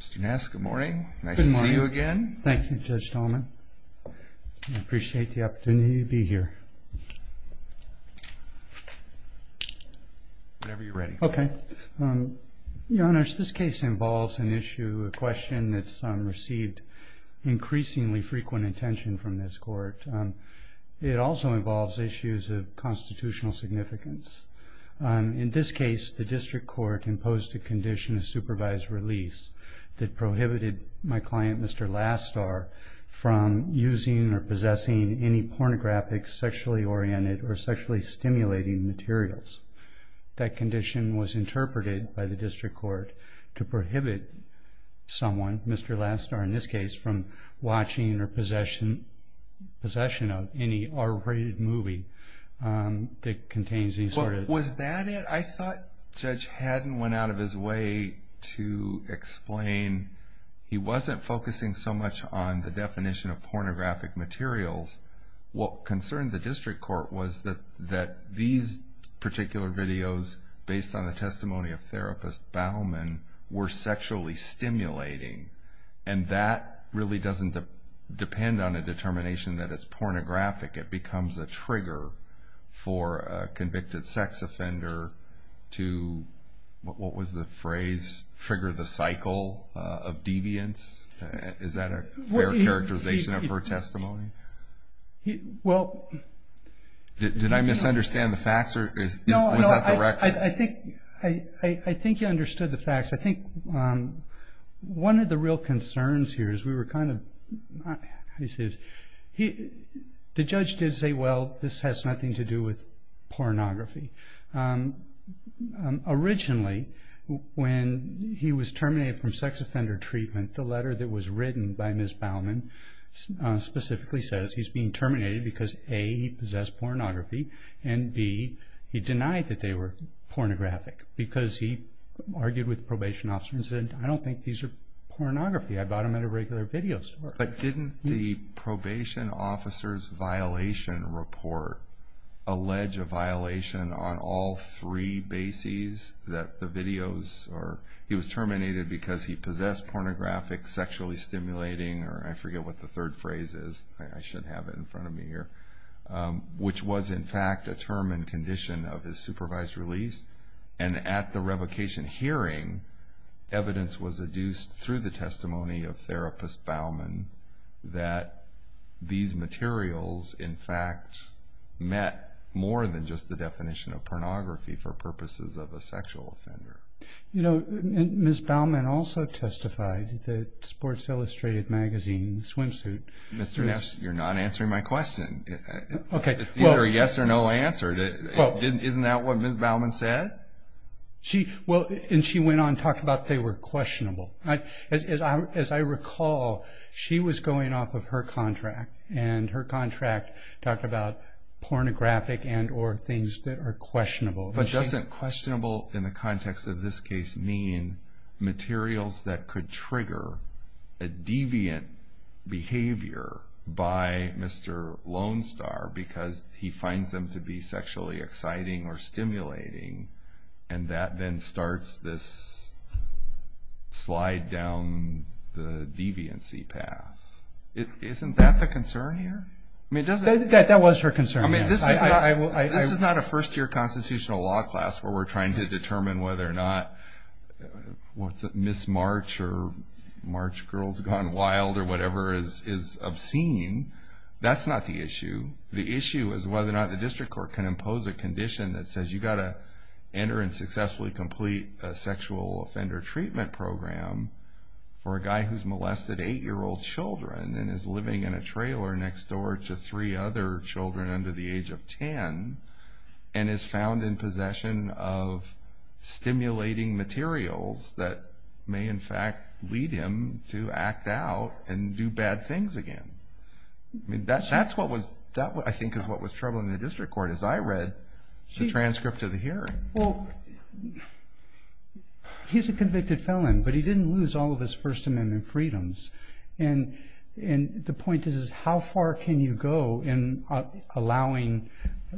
Mr. Ness, good morning. Nice to see you again. Thank you, Judge Dallman. I appreciate the opportunity to be here. Whenever you're ready. Okay. Your Honors, this case involves an issue, a question that's received increasingly frequent attention from this court. It also involves issues of constitutional significance. In this case, the district court imposed a condition of supervised release that prohibited my client, Mr. Last Star, from using or possessing any pornographic, sexually oriented, or sexually stimulating materials. That condition was interpreted by the district court to prohibit someone, Mr. Last Star in this case, from watching or possession of any R-rated movie that contains any sort of... Was that it? I thought Judge Haddon went out of his way to explain he wasn't focusing so much on the definition of pornographic materials. What concerned the district court was that these particular videos, based on the testimony of therapist Bowman, were sexually stimulating. And that really doesn't depend on a determination that it's pornographic. It becomes a trigger for a convicted sex offender to... What was the phrase? Trigger the cycle of deviance? Is that a fair characterization of her testimony? Well... Did I misunderstand the facts? No, no. I think you understood the facts. I think one of the real concerns here is we were kind of... The judge did say, well, this has nothing to do with pornography. Originally, when he was terminated from sex offender treatment, the letter that was written by Ms. Bowman specifically says he's being terminated because, A, he possessed pornography, and, B, he denied that they were pornographic because he argued with the probation officer and said, I don't think these are pornography. I bought them at a regular video store. But didn't the probation officer's violation report allege a violation on all three bases that the videos... He was terminated because he possessed pornographic, sexually stimulating, or I forget what the third phrase is. I should have it in front of me here. Which was, in fact, a term and condition of his supervised release. And at the revocation hearing, evidence was adduced through the testimony of therapist Bowman that these materials, in fact, met more than just the definition of pornography for purposes of a sexual offender. You know, Ms. Bowman also testified that Sports Illustrated Magazine swimsuit... Mr. Neff, you're not answering my question. It's either a yes or no answer. Isn't that what Ms. Bowman said? Well, and she went on to talk about they were questionable. As I recall, she was going off of her contract, and her contract talked about pornographic and or things that are questionable. But doesn't questionable in the context of this case mean materials that could trigger a deviant behavior by Mr. Lone Star because he finds them to be sexually exciting or stimulating, and that then starts this slide down the deviancy path? Isn't that the concern here? That was her concern. This is not a first-year constitutional law class where we're trying to determine whether or not Ms. March or March Girls Gone Wild or whatever is obscene. That's not the issue. The issue is whether or not the district court can impose a condition that says you've got to enter and successfully complete a sexual offender treatment program for a guy who's molested eight-year-old children and is living in a trailer next door to three other children under the age of 10 and is found in possession of stimulating materials that may, in fact, lead him to act out and do bad things again. That, I think, is what was troubling the district court as I read the transcript of the hearing. Well, he's a convicted felon, but he didn't lose all of his First Amendment freedoms. And the point is how far can you go in allowing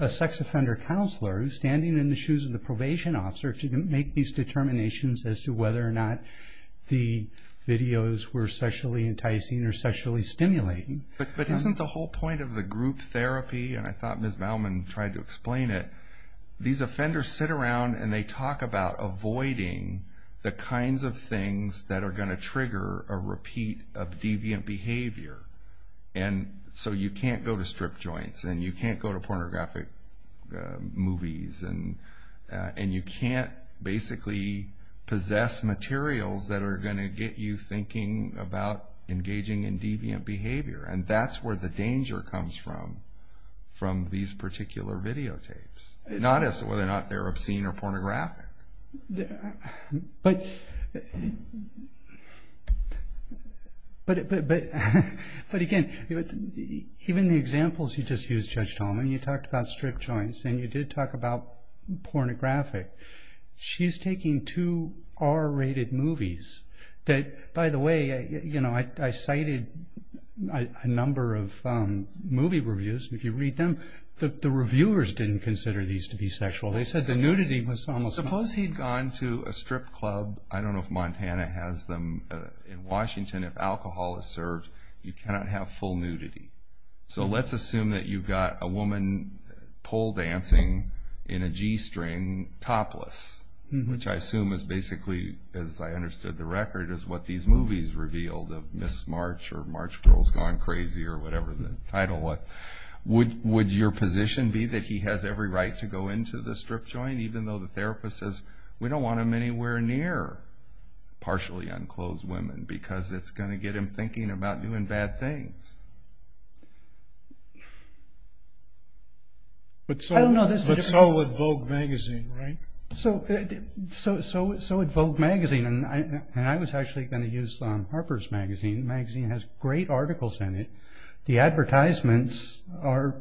a sex offender counselor who's standing in the shoes of the probation officer to make these determinations as to whether or not the videos were sexually enticing or sexually stimulating? But isn't the whole point of the group therapy, and I thought Ms. Baumann tried to explain it, these offenders sit around and they talk about avoiding the kinds of things that are going to trigger a repeat of deviant behavior. And so you can't go to strip joints and you can't go to pornographic movies and you can't basically possess materials that are going to get you thinking about engaging in deviant behavior. And that's where the danger comes from, from these particular videotapes. Not as to whether or not they're obscene or pornographic. But again, even the examples you just used, Judge Tallman, you talked about strip joints and you did talk about pornographic. She's taking two R-rated movies that, by the way, I cited a number of movie reviews. If you read them, the reviewers didn't consider these to be sexual. Suppose he'd gone to a strip club. I don't know if Montana has them. In Washington, if alcohol is served, you cannot have full nudity. So let's assume that you've got a woman pole dancing in a G-string, topless, which I assume is basically, as I understood the record, is what these movies revealed of Miss March or March Girls Gone Crazy or whatever the title was. Would your position be that he has every right to go into the strip joint even though the therapist says, we don't want him anywhere near partially unclothed women because it's going to get him thinking about doing bad things? But so would Vogue magazine, right? So would Vogue magazine. And I was actually going to use Harper's magazine. The magazine has great articles in it. The advertisements are...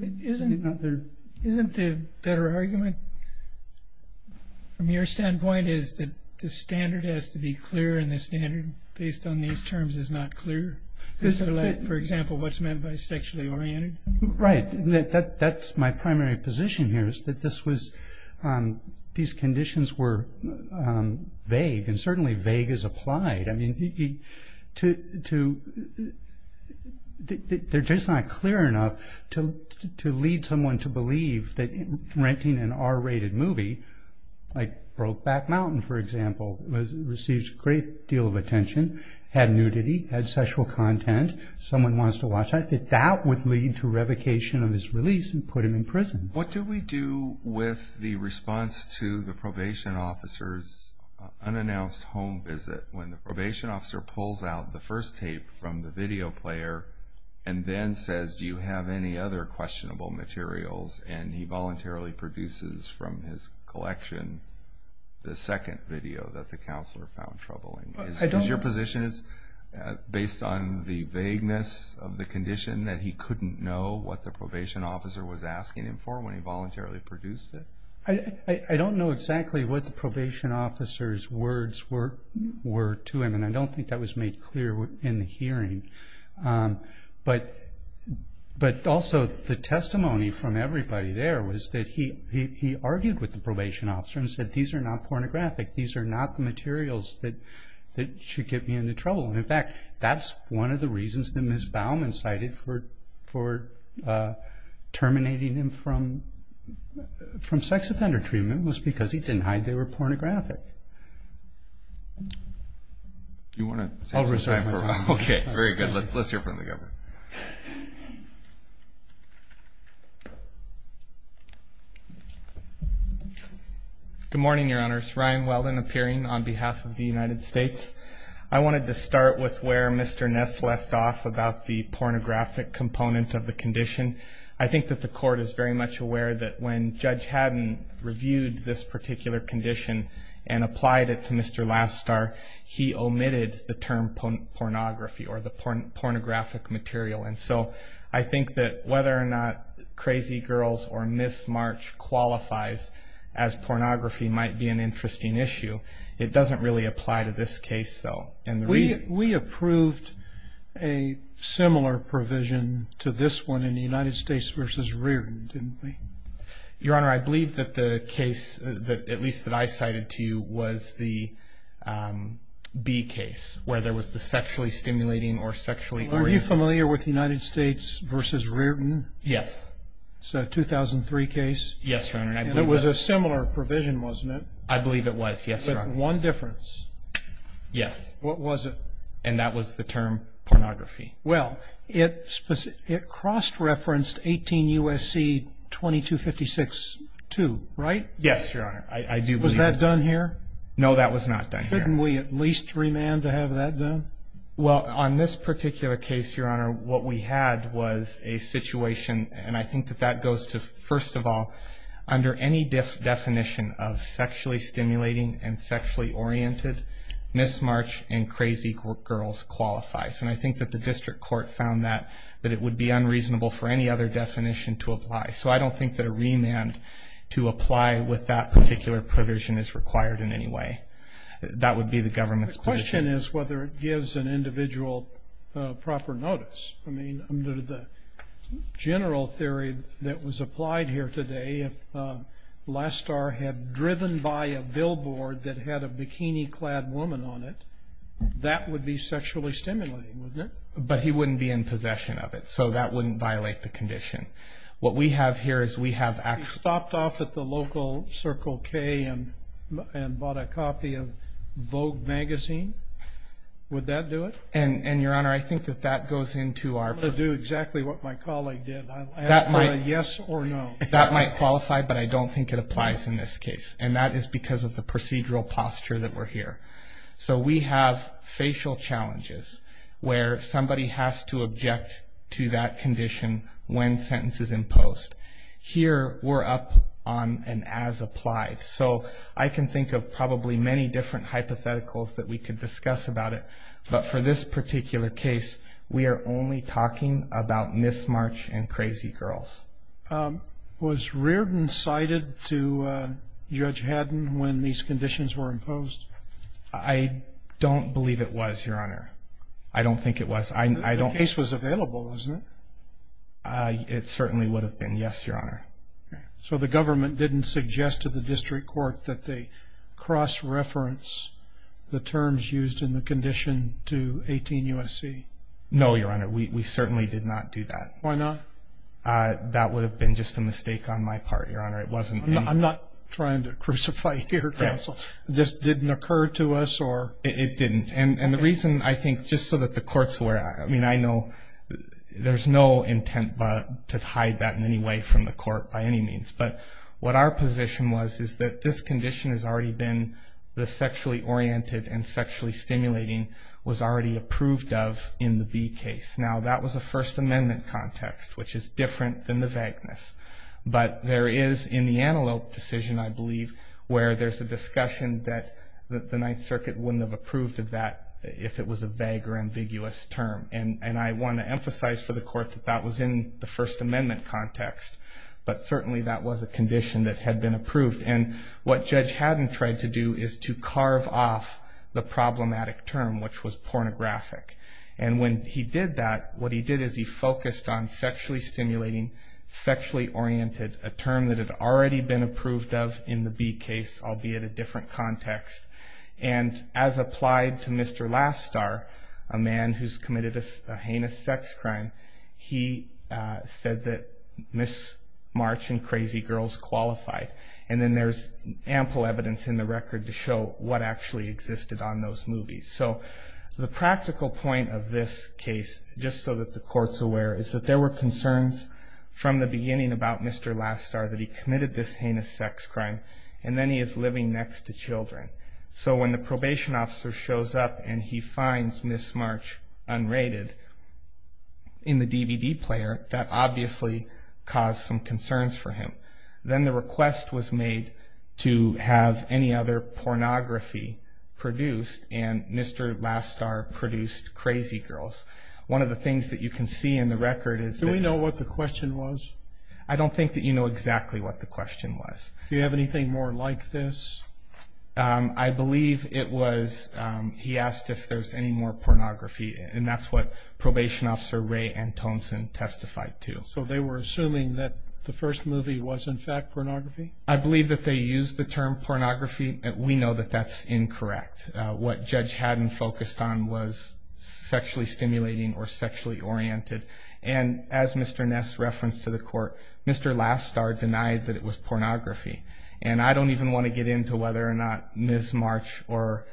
Isn't the better argument from your standpoint is that the standard has to be clear and the standard based on these terms is not clear? For example, what's meant by sexually oriented? Right. That's my primary position here is that these conditions were vague. And certainly vague is applied. I mean, they're just not clear enough to lead someone to believe that renting an R-rated movie, like Brokeback Mountain, for example, received a great deal of attention, had nudity, had sexual content. Someone wants to watch that. That would lead to revocation of his release and put him in prison. What do we do with the response to the probation officer's unannounced home visit when the probation officer pulls out the first tape from the video player and then says, do you have any other questionable materials? And he voluntarily produces from his collection the second video that the counselor found troubling. Is your position based on the vagueness of the condition that he couldn't know what the probation officer was asking him for when he voluntarily produced it? I don't know exactly what the probation officer's words were to him. And I don't think that was made clear in the hearing. But also the testimony from everybody there was that he argued with the probation officer and said, these are not pornographic. These are not the materials that should get me into trouble. And, in fact, that's one of the reasons that Ms. Bauman cited for terminating him from sex offender treatment was because he denied they were pornographic. Do you want to? I'll resign. Okay, very good. Let's hear from the governor. Good morning, Your Honors. Ryan Weldon appearing on behalf of the United States. I wanted to start with where Mr. Ness left off about the pornographic component of the condition. I think that the court is very much aware that when Judge Haddon reviewed this particular condition and applied it to Mr. Lastar, he omitted the term pornography or the pornographic material. And so I think that whether or not Crazy Girls or Miss March qualifies as pornography might be an interesting issue. It doesn't really apply to this case, though. We approved a similar provision to this one in the United States v. Reardon, didn't we? Your Honor, I believe that the case, at least that I cited to you, was the B case, where there was the sexually stimulating or sexually oriented. Are you familiar with the United States v. Reardon? Yes. It's a 2003 case. Yes, Your Honor, and I believe it was. And it was a similar provision, wasn't it? I believe it was, yes, Your Honor. With one difference. Yes. What was it? And that was the term pornography. Well, it cross-referenced 18 U.S.C. 2256-2, right? Yes, Your Honor. Was that done here? No, that was not done here. Shouldn't we at least remand to have that done? Well, on this particular case, Your Honor, what we had was a situation, and I think that that goes to, first of all, under any definition of sexually stimulating and sexually oriented, Miss March and Crazy Girls qualifies. And I think that the district court found that it would be unreasonable for any other definition to apply. So I don't think that a remand to apply with that particular provision is required in any way. That would be the government's position. The question is whether it gives an individual proper notice. I mean, under the general theory that was applied here today, if Lastar had driven by a billboard that had a bikini-clad woman on it, that would be sexually stimulating, wouldn't it? But he wouldn't be in possession of it, so that wouldn't violate the condition. What we have here is we have actually – He stopped off at the local Circle K and bought a copy of Vogue magazine. Would that do it? And, Your Honor, I think that that goes into our – I'm going to do exactly what my colleague did. I'll ask for a yes or no. That might qualify, but I don't think it applies in this case, and that is because of the procedural posture that we're here. So we have facial challenges where somebody has to object to that condition when sentence is imposed. Here we're up on an as-applied. So I can think of probably many different hypotheticals that we could discuss about it, but for this particular case, we are only talking about mismatch and crazy girls. Was Reardon cited to Judge Haddon when these conditions were imposed? I don't believe it was, Your Honor. I don't think it was. The case was available, wasn't it? It certainly would have been, yes, Your Honor. So the government didn't suggest to the district court that they cross-reference the terms used in the condition to 18 U.S.C.? No, Your Honor. We certainly did not do that. Why not? That would have been just a mistake on my part, Your Honor. I'm not trying to crucify you, Counsel. This didn't occur to us? It didn't. And the reason, I think, just so that the courts were – I mean, I know there's no intent to hide that in any way from the court by any means. But what our position was is that this condition has already been the sexually oriented and sexually stimulating was already approved of in the B case. Now, that was a First Amendment context, which is different than the vagueness. But there is in the Antelope decision, I believe, where there's a discussion that the Ninth Circuit wouldn't have approved of that if it was a vague or ambiguous term. And I want to emphasize for the court that that was in the First Amendment context. But certainly that was a condition that had been approved. And what Judge Haddon tried to do is to carve off the problematic term, which was pornographic. And when he did that, what he did is he focused on sexually stimulating, sexually oriented, a term that had already been approved of in the B case, albeit a different context. And as applied to Mr. Lastar, a man who's committed a heinous sex crime, he said that Miss March and Crazy Girls qualified. And then there's ample evidence in the record to show what actually existed on those movies. So the practical point of this case, just so that the court's aware, is that there were concerns from the beginning about Mr. Lastar that he committed this heinous sex crime, and then he is living next to children. So when the probation officer shows up and he finds Miss March unrated in the DVD player, that obviously caused some concerns for him. Then the request was made to have any other pornography produced, and Mr. Lastar produced Crazy Girls. One of the things that you can see in the record is that... Do we know what the question was? I don't think that you know exactly what the question was. Do you have anything more like this? I believe it was he asked if there's any more pornography, and that's what probation officer Ray Antoncin testified to. So they were assuming that the first movie was, in fact, pornography? I believe that they used the term pornography. We know that that's incorrect. What Judge Haddon focused on was sexually stimulating or sexually oriented. As Mr. Ness referenced to the court, Mr. Lastar denied that it was pornography. I don't even want to get into whether or not Miss March or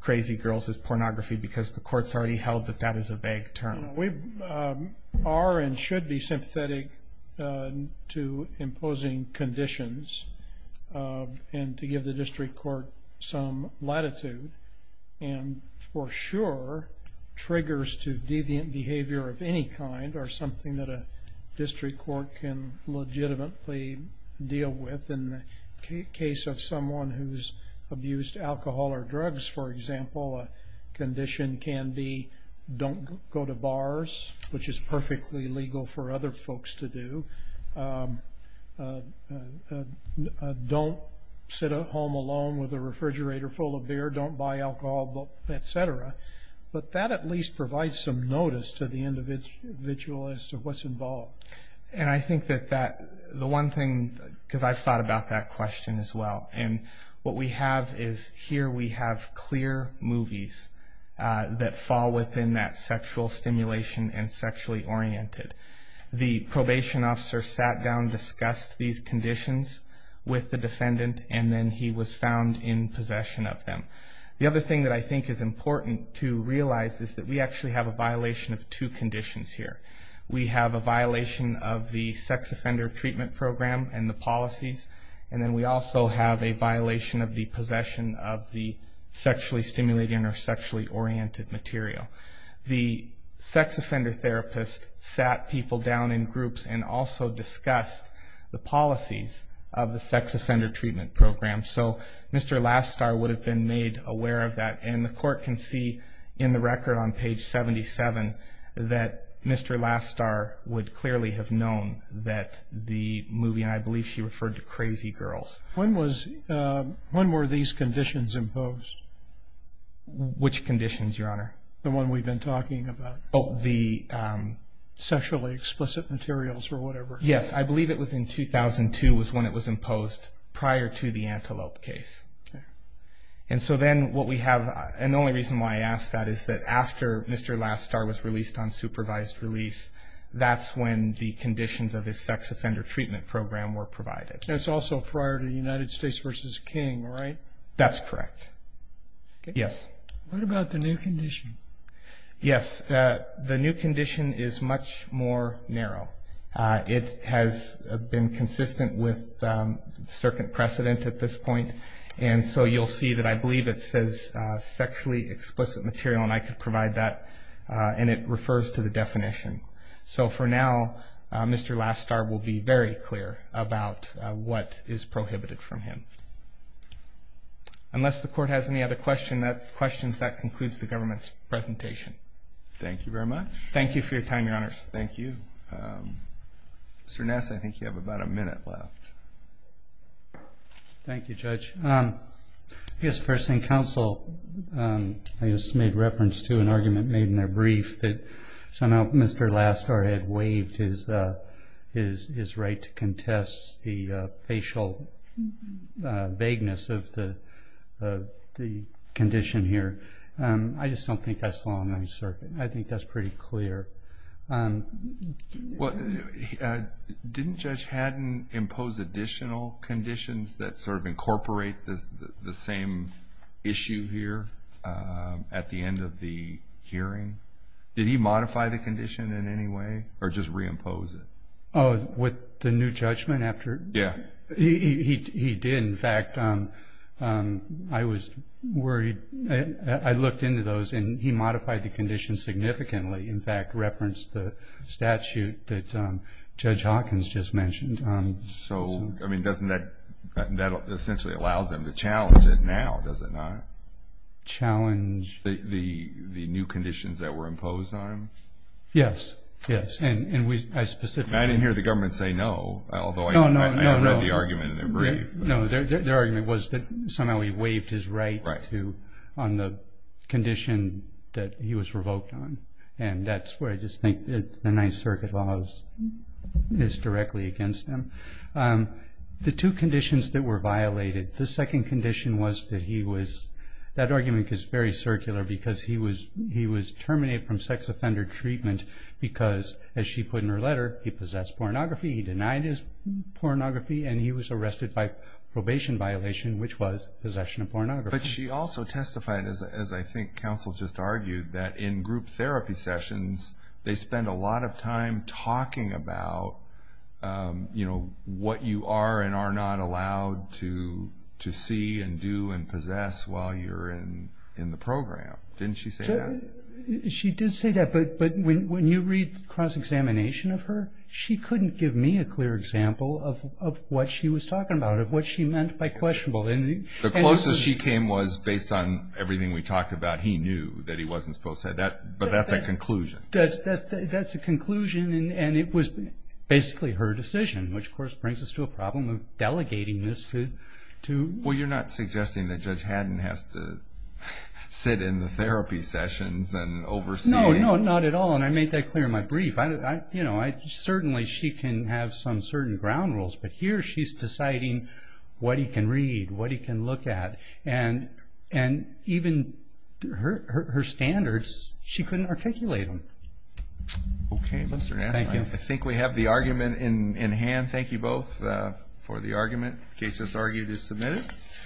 Crazy Girls is pornography because the court's already held that that is a vague term. We are and should be sympathetic to imposing conditions and to give the district court some latitude and for sure triggers to deviant behavior of any kind are something that a district court can legitimately deal with. In the case of someone who's abused alcohol or drugs, for example, a condition can be don't go to bars, which is perfectly legal for other folks to do. Don't sit at home alone with a refrigerator full of beer. Don't buy alcohol, et cetera. But that at least provides some notice to the individual as to what's involved. And I think that the one thing, because I've thought about that question as well, and what we have is here we have clear movies that fall within that sexual stimulation and sexually oriented. The probation officer sat down, discussed these conditions with the defendant, and then he was found in possession of them. The other thing that I think is important to realize is that we actually have a violation of two conditions here. We have a violation of the sex offender treatment program and the policies, and then we also have a violation of the possession of the sexually stimulating or sexually oriented material. The sex offender therapist sat people down in groups and also discussed the policies of the sex offender treatment program. So Mr. Lastar would have been made aware of that, and the court can see in the record on page 77 that Mr. Lastar would clearly have known that the movie, and I believe she referred to Crazy Girls. When were these conditions imposed? Which conditions, Your Honor? The one we've been talking about. Oh, the... Sexually explicit materials or whatever. Yes, I believe it was in 2002 was when it was imposed prior to the antelope case. Okay. And so then what we have, and the only reason why I ask that is that after Mr. Lastar was released on supervised release, that's when the conditions of his sex offender treatment program were provided. That's also prior to United States v. King, right? That's correct. Okay. Yes. What about the new condition? Yes, the new condition is much more narrow. It has been consistent with certain precedent at this point, and so you'll see that I believe it says sexually explicit material, and I could provide that, and it refers to the definition. So for now, Mr. Lastar will be very clear about what is prohibited from him. Unless the Court has any other questions, that concludes the government's presentation. Thank you very much. Thank you for your time, Your Honors. Thank you. Mr. Ness, I think you have about a minute left. Thank you, Judge. I guess first thing, counsel, I just made reference to an argument made in a brief that somehow Mr. Lastar had waived his right to contest the facial vagueness of the condition here. I just don't think that's the long-range circuit, and I think that's pretty clear. Didn't Judge Haddon impose additional conditions that sort of incorporate the same issue here at the end of the hearing? Did he modify the condition in any way or just reimpose it? Oh, with the new judgment after? Yeah. He did. In fact, I was worried. I looked into those, and he modified the condition significantly. In fact, referenced the statute that Judge Hawkins just mentioned. So that essentially allows him to challenge it now, does it not? Challenge? The new conditions that were imposed on him? Yes, yes. I didn't hear the government say no, although I have read the argument in a brief. No, their argument was that somehow he waived his right on the condition that he was revoked on, and that's where I just think the Ninth Circuit law is directly against him. The two conditions that were violated, the second condition was that he was – that argument is very circular because he was terminated from sex offender treatment because, as she put in her letter, he possessed pornography, he denied his pornography, and he was arrested by probation violation, which was possession of pornography. But she also testified, as I think counsel just argued, that in group therapy sessions, they spend a lot of time talking about, you know, what you are and are not allowed to see and do and possess while you're in the program. Didn't she say that? She did say that, but when you read cross-examination of her, she couldn't give me a clear example of what she was talking about, of what she meant by questionable. The closest she came was based on everything we talked about. He knew that he wasn't supposed to say that, but that's a conclusion. That's a conclusion, and it was basically her decision, which, of course, brings us to a problem of delegating this to – Well, you're not suggesting that Judge Haddon has to sit in the therapy sessions and oversee – No, no, not at all, and I made that clear in my brief. You know, certainly she can have some certain ground rules, but here she's deciding what he can read, what he can look at, and even her standards, she couldn't articulate them. Okay, Mr. Nash, I think we have the argument in hand. Thank you both for the argument. The case that's argued is submitted.